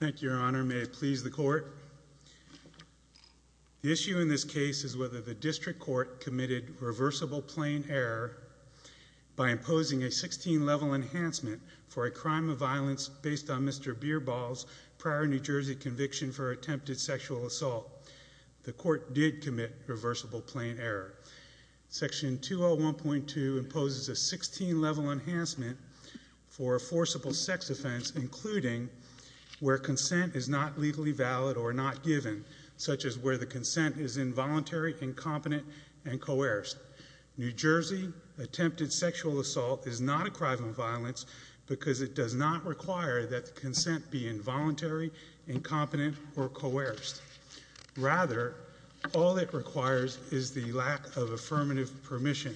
Thank you, Your Honor. May it please the Court. The issue in this case is whether the District Court committed reversible plain error by imposing a 16-level enhancement for a crime of violence based on Mr. Birbal's prior New Jersey conviction for attempted sexual assault. The Court did commit reversible plain error. Section 201.2 imposes a 16-level enhancement for a forcible sex offense, including where consent is not legally valid or not given, such as where the consent is involuntary, incompetent, and coerced. New Jersey attempted sexual assault is not a crime of violence because it does not require that the consent be involuntary, incompetent, or coerced. Rather, all it requires is the lack of affirmative permission.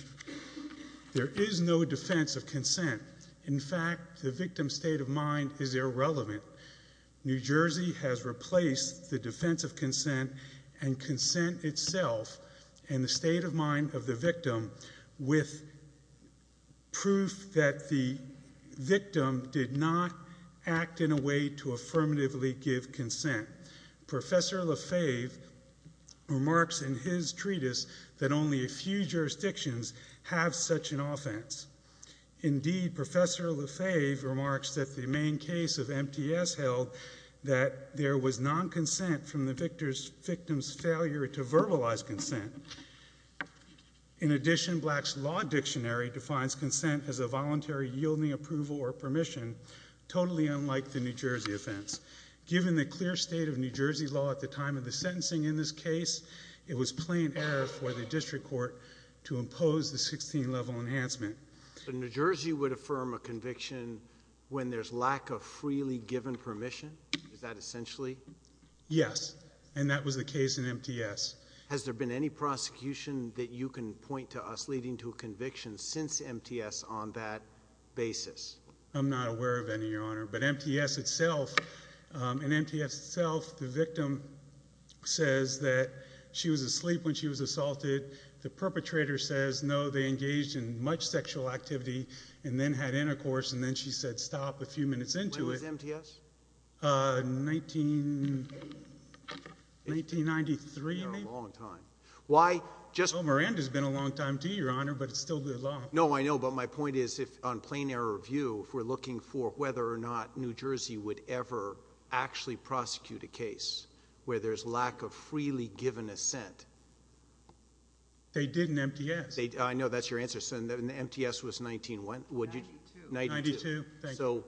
There is no defense of consent. In fact, the victim's state of mind is irrelevant. New Jersey has replaced the defense of consent and consent itself and the state of mind of the victim with proof that the victim did not act in a way to affirmatively give consent. Professor Lefebvre remarks in his treatise that only a few jurisdictions have such an offense. Indeed, Professor Lefebvre remarks that the main case of MTS held that there was non-consent from the victim's failure to verbalize consent. In addition, Black's Law Dictionary defines consent as a voluntary yielding approval or permission, totally unlike the New Jersey offense. Given the clear state of New Jersey law at the time of the sentencing in this case, it was plain error for the district court to impose the 16-level enhancement. New Jersey would affirm a conviction when there's lack of freely given permission? Is that essentially? Yes, and that was the case in MTS. Has there been any prosecution that you can point to us leading to a conviction since MTS on that basis? I'm not aware of any, Your Honor, but MTS itself, in MTS itself, the victim says that she was asleep when she was assaulted. The perpetrator says, no, they engaged in much sexual activity and then had intercourse and then she said stop a few minutes into it. When was MTS? 1993, maybe? A long time. Miranda's been a long time too, Your Honor, but it's still good law. No, I know, but my point is, on plain error view, if we're looking for whether or not New Jersey would ever actually prosecute a case where there's lack of freely given assent. They did in MTS. I know that's your answer. MTS was 1992. So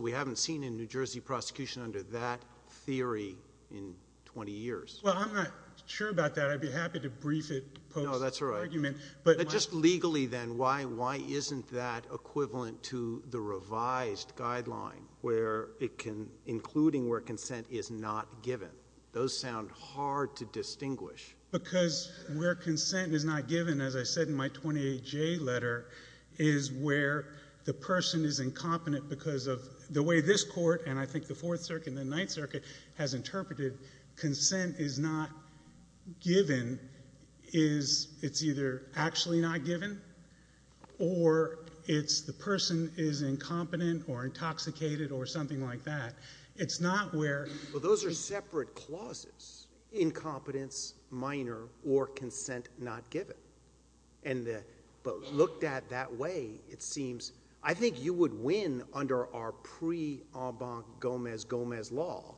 we haven't seen in New Jersey prosecution under that theory in 20 years. Well, I'm not sure about that. I'd be happy to brief it post argument. No, that's all right. But just legally then, why isn't that equivalent to the revised guideline where it can, including where consent is not given? Those sound hard to distinguish. Because where consent is not given, as I said in my 28J letter, is where the person is incompetent because of the way this Court, and I think the Fourth Circuit and the Ninth Circuit, has interpreted consent is not given. It's either actually not given or it's the person is incompetent or intoxicated or something like that. It's not where... Those are separate clauses. Incompetence, minor, or consent not given. But looked at that way, it seems... I think you would win under our pre-Enbanc Gomez-Gomez law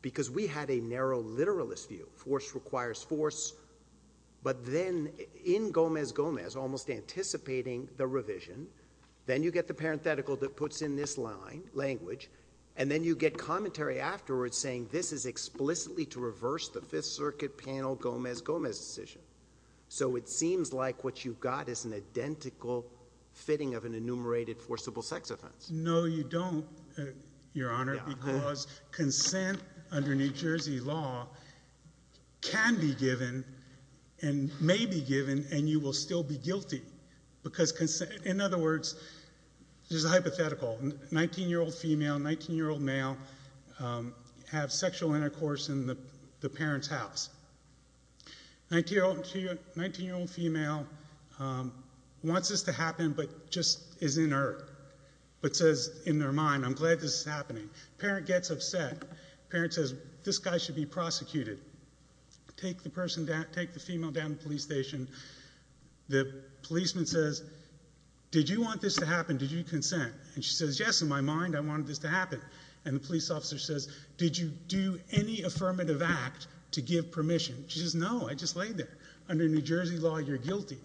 because we had a narrow literalist view. Force requires force. But then in Gomez-Gomez, almost anticipating the revision, then you get the parenthetical that puts in this language, and then you get commentary afterwards saying this is explicitly to reverse the Fifth Circuit panel Gomez-Gomez decision. So it seems like what you've got is an identical fitting of an enumerated forcible sex offense. No, you don't, Your Honor, because consent under New Jersey law can be given and may be given, and you will still be guilty. In other words, this is hypothetical. A 19-year-old male has sexual intercourse in the parent's house. A 19-year-old female wants this to happen but just is inert, but says in their mind, I'm glad this is happening. The parent gets upset. The parent says, this guy should be prosecuted. Take the person, take the female down to the police station. The policeman says, did you want this to happen? Did you do any affirmative act to give permission? She says, no, I just laid there. Under New Jersey law, you're guilty.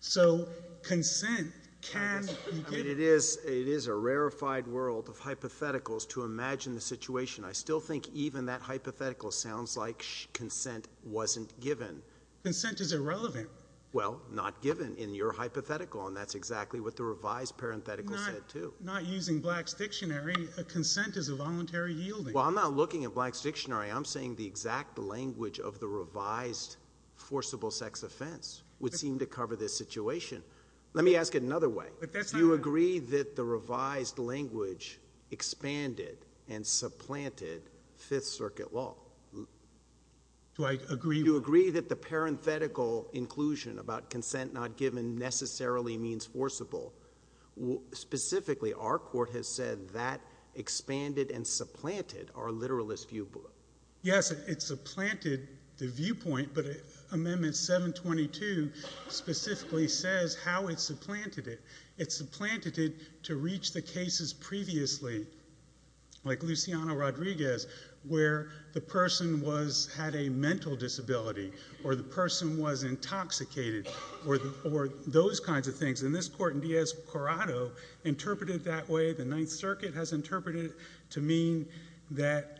So consent can be given. I mean, it is a rarefied world of hypotheticals to imagine the situation. I still think even that hypothetical sounds like consent wasn't given. Consent is irrelevant. Well, not given in your hypothetical, and that's exactly what the revised parenthetical said, too. But not using Black's Dictionary, a consent is a voluntary yielding. Well, I'm not looking at Black's Dictionary. I'm saying the exact language of the revised forcible sex offense would seem to cover this situation. Let me ask it another way. Do you agree that the revised language expanded and supplanted Fifth Circuit law? Do I agree? Do you agree that the parenthetical inclusion about consent not given necessarily means forcible? Specifically, our court has said that expanded and supplanted our literalist view. Yes, it supplanted the viewpoint, but Amendment 722 specifically says how it supplanted it. It supplanted it to reach the cases previously, like Luciano Rodriguez, where the person had a mental disability, or the person was intoxicated, or those kinds of things. And this Court in Diaz-Corrado interpreted it that way. The Ninth Circuit has interpreted it to mean that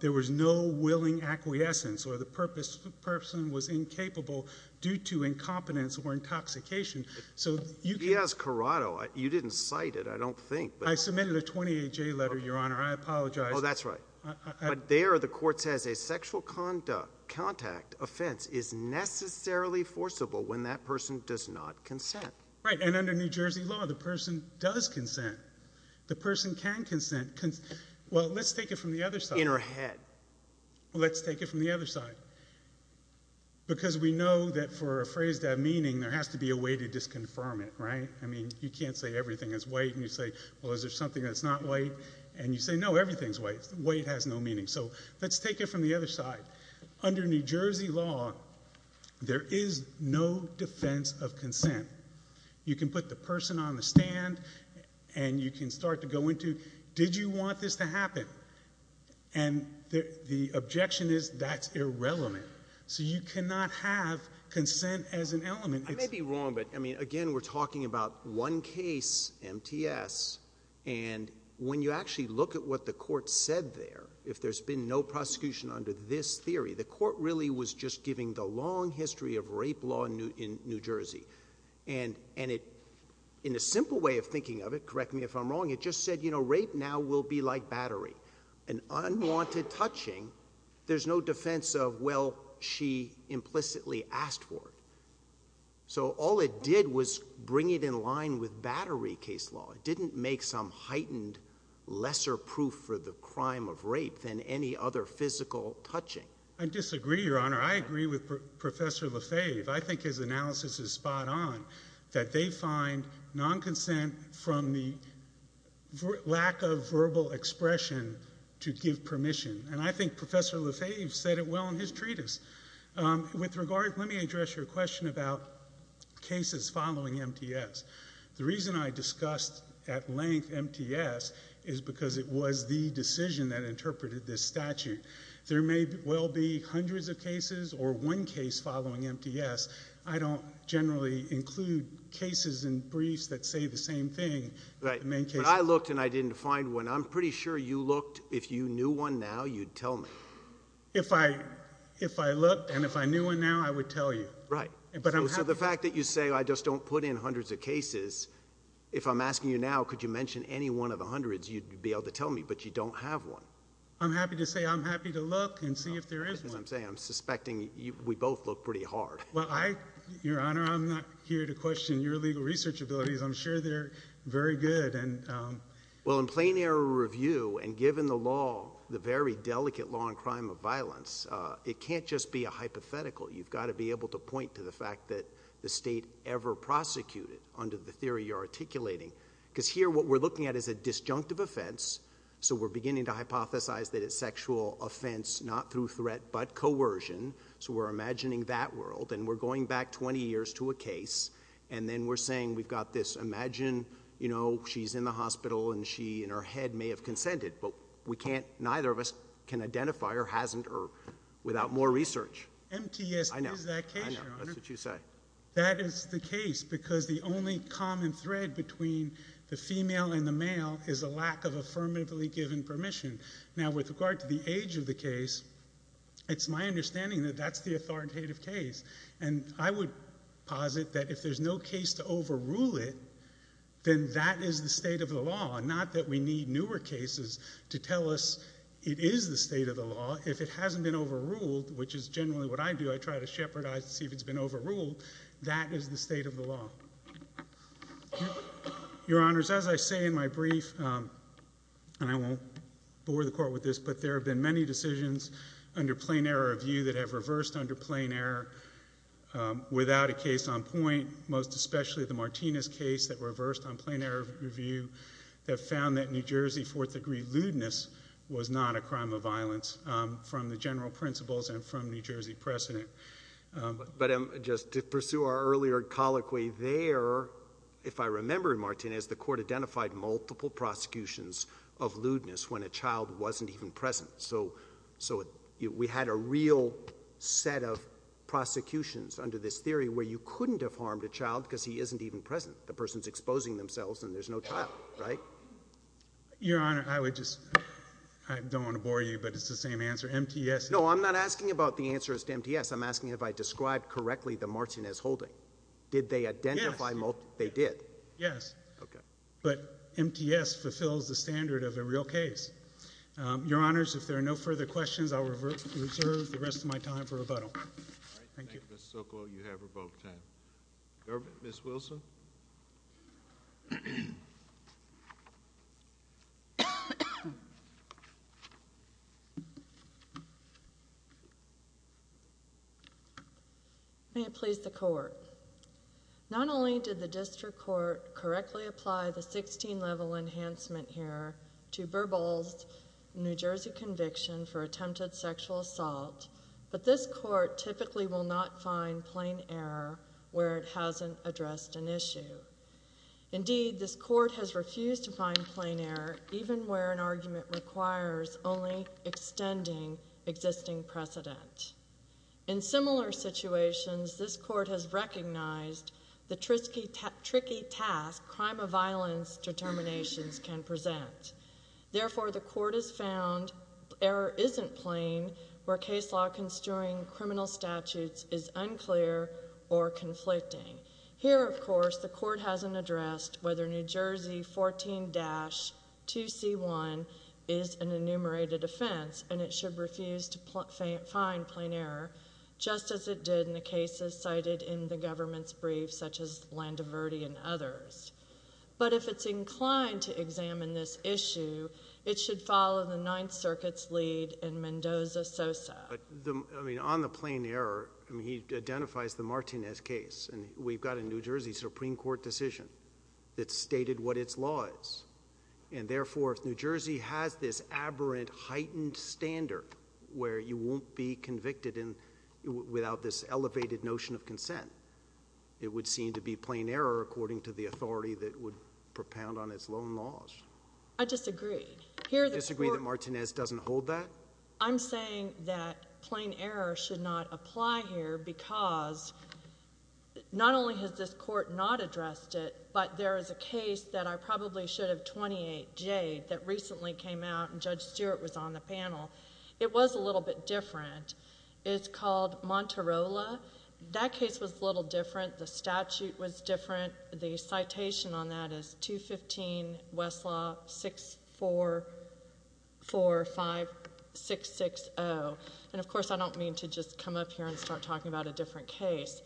there was no willing acquiescence, or the person was incapable due to incompetence or intoxication. So Diaz-Corrado, you didn't cite it, I don't think. I submitted a 28-J letter, Your Honor. I apologize. Oh, that's right. But there the Court says a sexual contact offense is necessarily forcible when that person does not consent. Right. And under New Jersey law, the person does consent. The person can consent. Well, let's take it from the other side. In her head. Let's take it from the other side. Because we know that for a phrase to have meaning, there has to be a way to disconfirm it, right? I mean, you can't say everything is white, and you say, well, is there something that's not white? And you say, no, everything's white. White has no meaning. So let's take it from the other side. Under New Jersey law, there is no defense of consent. You can put the person on the stand, and you can start to go into, did you want this to happen? And the objection is, that's irrelevant. So you cannot have consent as an element. I may be wrong, but again, we're talking about one case, MTS, and when you actually look at what the Court said there, if there's been no prosecution under this theory, the Court really was just giving the long history of rape law in New Jersey. And in a simple way of thinking of it, correct me if I'm wrong, it just said, you know, rape now will be like asked for. So all it did was bring it in line with battery case law. It didn't make some heightened, lesser proof for the crime of rape than any other physical touching. I disagree, Your Honor. I agree with Professor Lefebvre. I think his analysis is spot on, that they find non-consent from the lack of verbal expression to give permission. And I think Professor Lefebvre said it well in his treatise. With regard, let me address your question about cases following MTS. The reason I discussed at length MTS is because it was the decision that interpreted this statute. There may well be hundreds of cases or one case following MTS. I don't generally include cases and briefs that say the same thing. But I looked and I didn't find one. I'm pretty sure you looked. If you knew one now, you'd tell me. If I looked and if I knew one now, I would tell you. Right. So the fact that you say, I just don't put in hundreds of cases, if I'm asking you now, could you mention any one of the hundreds, you'd be able to tell me. But you don't have one. I'm happy to say I'm happy to look and see if there is one. As I'm saying, I'm suspecting we both look pretty hard. Well, I, Your Honor, I'm not here to question your legal research abilities. I'm sure they're very good. Well, in plain error review, and given the law, the very delicate law in crime of violence, it can't just be a hypothetical. You've got to be able to point to the fact that the state ever prosecuted under the theory you're articulating. Because here, what we're looking at is a disjunctive offense. So we're beginning to hypothesize that it's sexual offense, not through threat, but coercion. So we're imagining that world. And we're going back 20 years to a case. And then we're saying we've got this. Imagine, you know, she's in the hospital and she, in her head, may have consented. But we can't, neither of us can identify her, hasn't, or without more research. MTS is that case, Your Honor. I know. I know. That's what you say. That is the case. Because the only common thread between the female and the male is a lack of affirmatively given permission. Now, with regard to the age of the case, it's my understanding that that's the authoritative case. And I would posit that if there's no case to overrule it, then that is the state of the law. Not that we need newer cases to tell us it is the state of the law. If it hasn't been overruled, which is generally what I do, I try to shepherd eyes to see if it's been overruled, that is the state of the law. Your Honors, as I say in my brief, and I won't bore the Court with this, but there have been many decisions under plain error of view that have reversed under plain error without a case on point, most especially the Martinez case that reversed on plain error of view that found that New Jersey fourth degree lewdness was not a crime of violence from the general principles and from New Jersey precedent. But just to pursue our earlier colloquy, there, if I remember, Martinez, the Court identified multiple prosecutions of lewdness when a child wasn't even present. So we had a real set of prosecutions under this theory where you couldn't have harmed a child because he isn't even present. The person's exposing themselves and there's no child, right? Your Honor, I would just — I don't want to bore you, but it's the same answer. MTS — No, I'm not asking about the answers to MTS. I'm asking if I described correctly the Martinez holding. Did they identify — Yes. They did? Yes. Okay. But MTS fulfills the standard of a real case. Your Honors, if there are no further questions, I will reserve the rest of my time for rebuttal. Thank you. All right. Thank you, Mr. Sokol. You have revoked time. Ms. Wilson? May it please the Court. Not only did the District Court correctly apply the 16-level enhancement here to Burble's New Jersey conviction for attempted sexual assault, but this Court typically will not find plain error where it hasn't addressed an issue. Indeed, this Court has refused to find plain error even where an argument requires only extending existing precedent. In similar situations, this Court has recognized the tricky task crime of violence determinations can present. Therefore, the Court has found error isn't plain where case law construing criminal statutes is unclear or conflicting. Here, of course, the Court hasn't addressed whether New Jersey 14-2C1 is an enumerated offense, and it should refuse to find plain error, just as it did in the cases cited in the government's briefs such as Landoverdi and others. But if it's inclined to examine this issue, it should follow the Ninth Circuit's lead in Mendoza-Sosa. On the plain error, he identifies the Martinez case. We've got a New Jersey Supreme Court decision that stated what its law is. Therefore, if New Jersey has this aberrant, heightened standard where you won't be convicted without this elevated notion of consent, it would be seen to be plain error according to the authority that would propound on its loan laws. I disagree. You disagree that Martinez doesn't hold that? I'm saying that plain error should not apply here because not only has this Court not addressed it, but there is a case that I probably should have 28-J that recently came out, and Judge Stewart was on the panel. It was a little bit different. It's called Monterola. That case was a little different. The statute was different. The citation on that is 215 West Law 6445660. And of course, I don't mean to just come up here and start talking about a different case.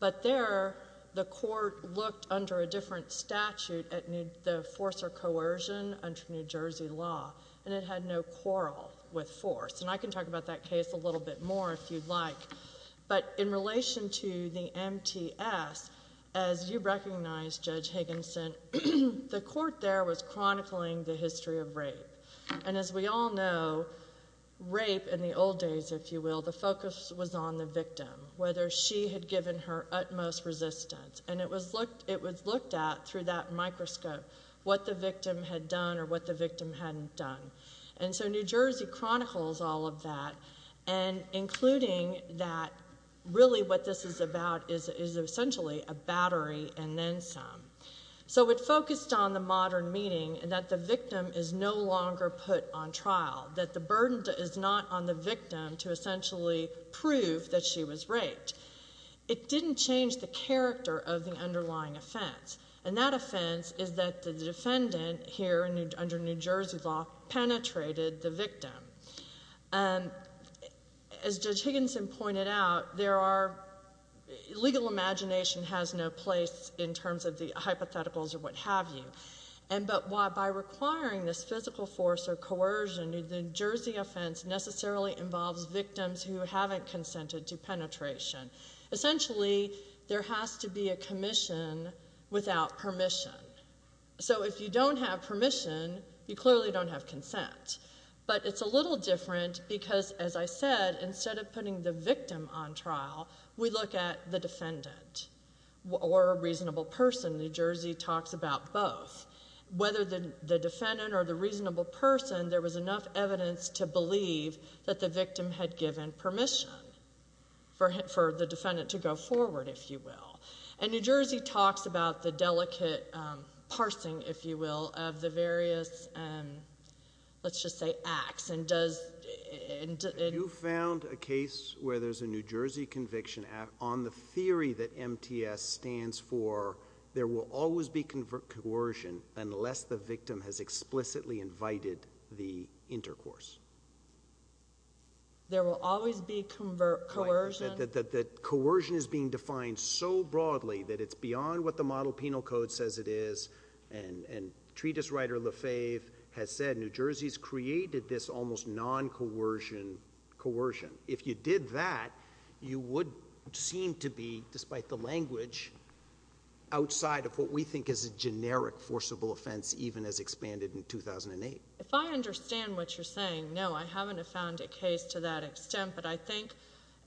But there, the Court looked under a different statute at the force or coercion under New Jersey law, and it had no quarrel with force. And I can talk about that case a little bit more if you'd like. But in relation to the MTS, as you recognize, Judge Higginson, the Court there was chronicling the history of rape. And as we all know, rape in the old days, if you will, the focus was on the victim, whether she had given her utmost resistance. And it was looked at through that microscope what the victim had done or what the victim hadn't done. And so New Jersey chronicles all of that, and including that really what this is about is essentially a battery and then some. So it focused on the modern meaning that the victim is no longer put on trial, that the burden is not on the victim to essentially prove that she was raped. It didn't change the character of the underlying offense. And that offense is that the defendant here under New Jersey law penetrated the victim. As Judge Higginson pointed out, there are – legal imagination has no place in terms of the hypotheticals or what have you. And but by requiring this physical force or coercion, the New Jersey offense necessarily involves victims who haven't consented to penetration. Essentially, there has to be a commission without permission. So if you don't have permission, you clearly don't have consent. But it's a little different because, as I said, instead of putting the victim on trial, we look at the defendant or a reasonable person. New Jersey talks about both. Whether the defendant or the reasonable person, there was enough evidence to believe that the victim had given permission for the defendant to go forward, if you will. And New Jersey talks about the delicate parsing, if you will, of the various, let's just say, acts. And does – You found a case where there's a New Jersey conviction on the theory that MTS stands for there will always be coercion unless the victim has explicitly invited the intercourse. There will always be coercion? That coercion is being defined so broadly that it's beyond what the model penal code says it is. And treatise writer Lefebvre has said New Jersey's created this almost non-coercion coercion. If you did that, you would seem to be, despite the language, outside of what we think is a generic forcible offense, even as expanded in 2008. If I understand what you're saying, no, I haven't found a case to that extent. But I think,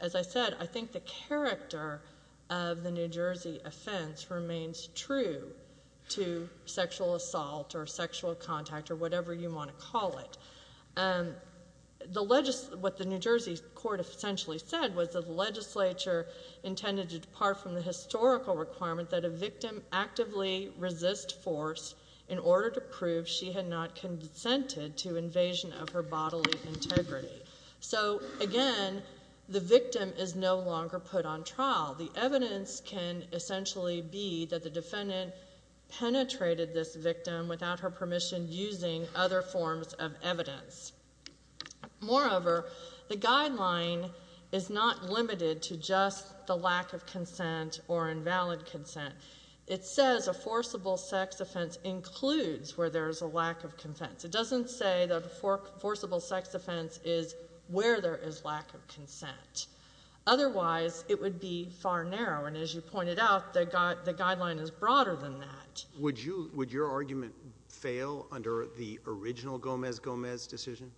as I said, I think the character of the New Jersey offense remains true to sexual assault or sexual contact or whatever you want to call it. What the New Jersey court essentially said was that the legislature intended to depart from the historical requirement that a victim actively resist force in order to prove she had not consented to invasion of her bodily integrity. So, again, the victim is no longer put on trial. The evidence can essentially be that the defendant penetrated this victim without her permission using other forms of evidence. Moreover, the guideline is not limited to just the lack of consent or invalid consent. It says a forcible sex offense includes where there's a lack of consent. It doesn't say that a forcible sex offense is where there is lack of consent. Otherwise, it would be far narrower. And as you pointed out, the guideline is broader than that. Would you, would your argument fail under the original Gomez-Gomez decision?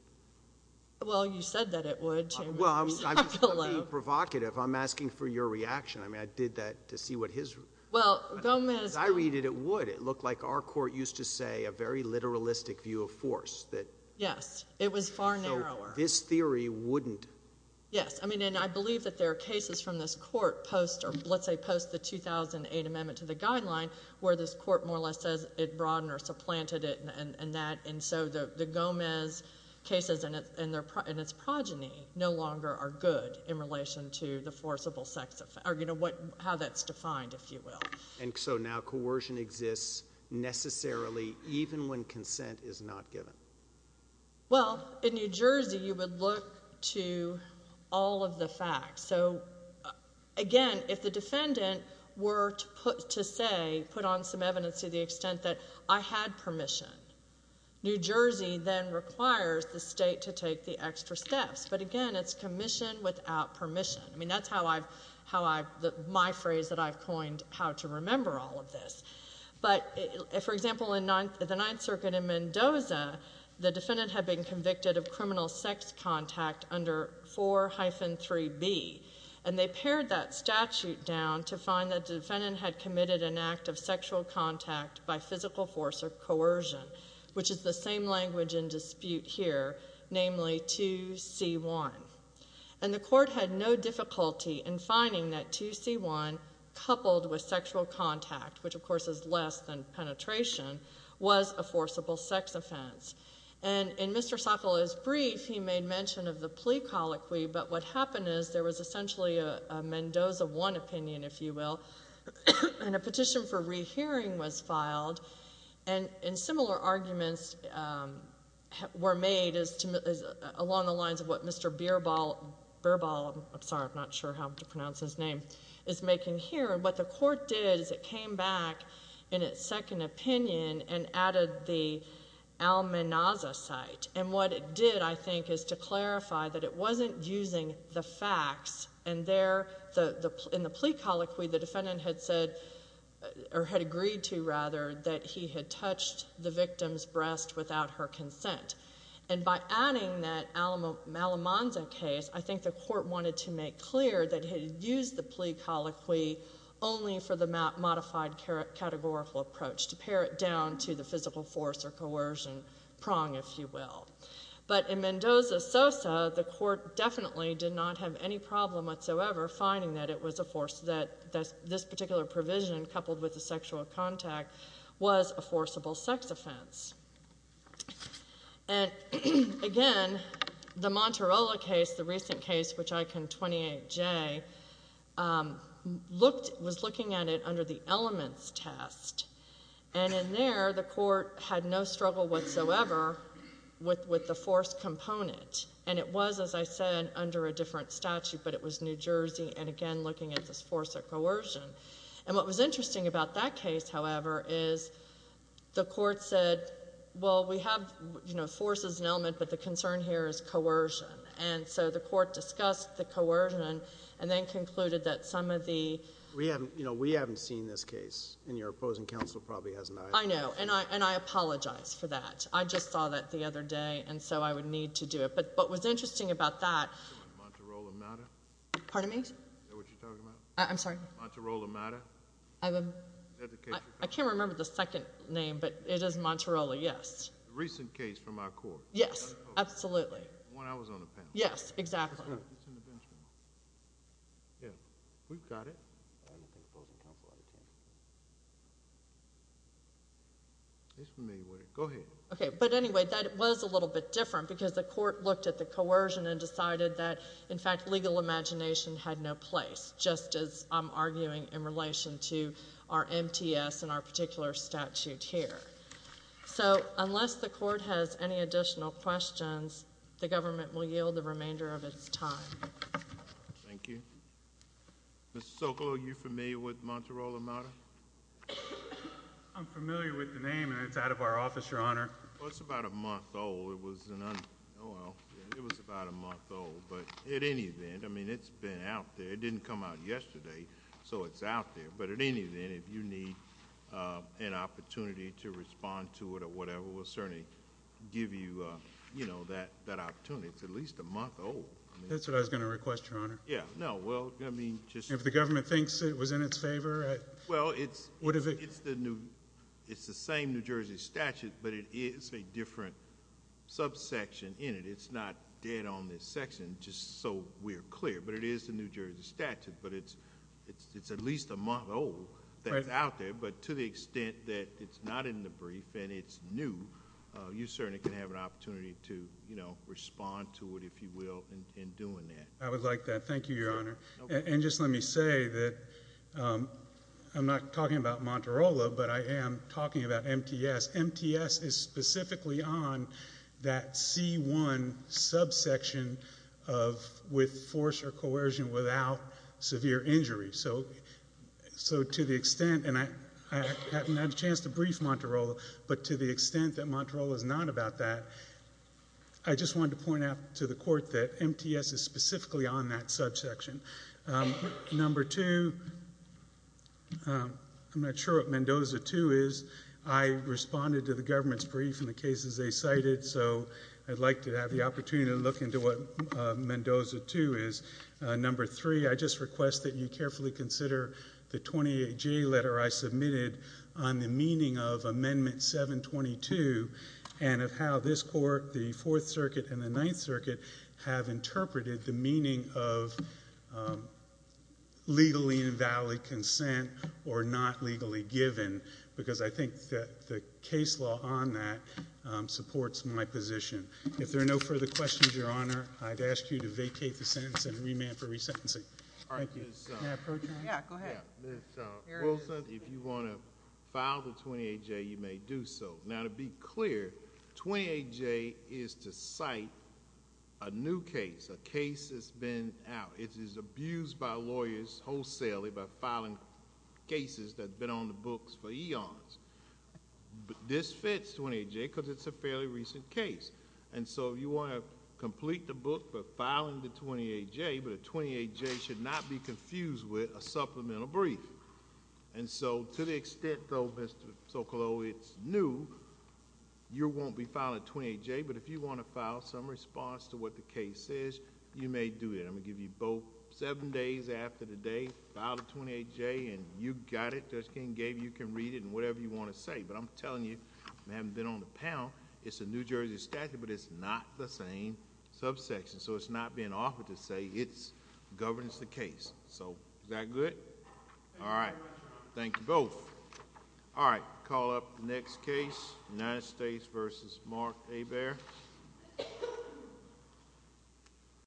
Well, you said that it would. Well, I'm being provocative. I'm asking for your reaction. I mean, I did that to see what his... Well, Gomez... As I read it, it would. It looked like our court used to say a very literalistic view of force that... Yes. It was far narrower. So, this theory wouldn't... Yes. I mean, and I believe that there are cases from this court post or let's say post the 2008 amendment to the guideline where this court more or less says it broadened or supplanted it and that. And so the Gomez cases and its progeny no longer are good in relation to the forcible sex offense, or how that's defined, if you will. And so now coercion exists necessarily even when consent is not given? Well, in New Jersey, you would look to all of the facts. So, again, if the defendant were to say, put on some evidence to the extent that I had permission, New Jersey then requires the state to take the extra steps. But, again, it's commission without permission. I mean, that's how I've... My phrase that I've coined, how to remember all of this. But, for example, in the Ninth Circuit in Mendoza, the defendant had been convicted of criminal sex contact under 4-3B. And they pared that statute down to find that the defendant had committed an act of sexual contact by physical force or coercion, which is the same language in dispute here, namely 2-C-1. And the court had no difficulty in finding that 2-C-1 coupled with sexual contact, which, of course, is less than penetration, was a forcible sex offense. And in Mr. Sokolow's brief, he made mention of the plea colloquy, but what happened is there was essentially a Mendoza 1 opinion, if you will, and a petition for rehearing was filed. And similar arguments were made along the lines of what Mr. Bierbaul... Bierbaul, I'm sorry, I'm not sure how to pronounce his name, is making here. And what the court did is it came back in its second opinion and added the Almenaza site. And what it did, I think, is to clarify that it wasn't using the facts. And there, in the plea colloquy, the defendant had said, or had agreed to, rather, that he had touched the victim's breast without her consent. And by adding that Almenaza case, I think the court wanted to make clear that he had used the plea colloquy only for the modified categorical approach, to pare it down to the physical force or coercion prong, if you will. But in Mendoza-Sosa, the court definitely did not have any problem whatsoever finding that it was a force that this particular provision, coupled with the sexual contact, was a forcible sex offense. And, again, the Monterola case, the recent case, which I can 28J, was looking at it under the elements test. And in there, the court had no struggle whatsoever with the force component. And it was, as I said, under a different statute, but it was New York, again, looking at this force or coercion. And what was interesting about that case, however, is the court said, well, we have, you know, forces and element, but the concern here is coercion. And so the court discussed the coercion, and then concluded that some of the... We haven't, you know, we haven't seen this case. And your opposing counsel probably hasn't either. I know. And I apologize for that. I just saw that the other day, and so I would need to do it. But what was interesting about that... The Monterola matter? Pardon me? The Monterola case. Is that what you're talking about? I'm sorry? The Monterola matter? I can't remember the second name, but it is Monterola, yes. The recent case from our court. Yes, absolutely. The one I was on the panel. Yes, exactly. It's in the bench. Yeah, we've got it. I don't think opposing counsel... Go ahead. Okay, but anyway, that was a little bit different, because the court looked at the coercion and decided that, in fact, legal imagination had no place, just as I'm arguing in relation to our MTS and our particular statute here. So, unless the court has any additional questions, the government will yield the remainder of its time. Thank you. Mr. Sokolow, are you familiar with the Monterola matter? I'm familiar with the name, and it's out of our office, Your Honor. Well, it's about a month old. It was about a month old. But at any event, I mean, it's been out there. It didn't come out yesterday, so it's out there. But at any event, if you need an opportunity to respond to it or whatever, we'll certainly give you, you know, that opportunity. It's at least a month old. That's what I was going to request, Your Honor. Yeah. No, well, I mean... If the government thinks it was in its favor... Well, it's the same New Jersey statute, but it is a different subsection in it. It's not dead on this section, just so we're clear. But it is the New Jersey statute. But it's at least a month old that's out there. But to the extent that it's not in the brief and it's new, you certainly can have an opportunity to, you know, respond to it, if you will, in doing that. I would like that. Thank you, Your Honor. And just let me say that I'm not talking about Monterolo, but I am talking about MTS. MTS is specifically on that C1 subsection of with force or coercion without severe injury. So to the extent... And I haven't had a chance to brief Monterolo, but to the extent that Monterolo is not about that, I just wanted to point out to the Court that MTS is specifically on that subsection. Number two, I'm not sure what Mendoza 2 is. I responded to the government's brief and the cases they cited, so I'd like to have the opportunity to look into what Mendoza 2 is. Number three, I just request that you carefully consider the 28J letter I submitted on the meaning of Amendment 722 and of how this Court, the Fourth Circuit, and the Ninth Circuit, have interpreted the meaning of legally invalid consent or not legally given, because I think that the case law on that supports my position. If there are no further questions, Your Honor, I'd ask you to vacate the sentence and remand for resentencing. Thank you. May I approach you? Yeah, go ahead. Ms. Wilson, if you want to file the 28J, you may do so. Now, to be clear, 28J is to cite a new case, a case that's been out. It is abused by lawyers wholesalely by filing cases that have been on the books for eons. This fits 28J because it's a fairly recent case, and so you want to complete the book by filing the 28J, but a 28J should not be confused with a supplemental brief. And so, to the extent, though, Mr. Socolow, it's new, you won't be filing a 28J, but if you want to file some response to what the case says, you may do it. I'm going to give you both seven days after the day. File the 28J, and you got it. Judge King gave you. You can read it and whatever you want to say, but I'm telling you, I haven't been on the panel, it's a New Jersey statute, but it's not the same subsection. So it's not being offered to say it governs the case. So, is that good? All right. Thank you both. All right. Call up the next case, United States v. Mark Hebert.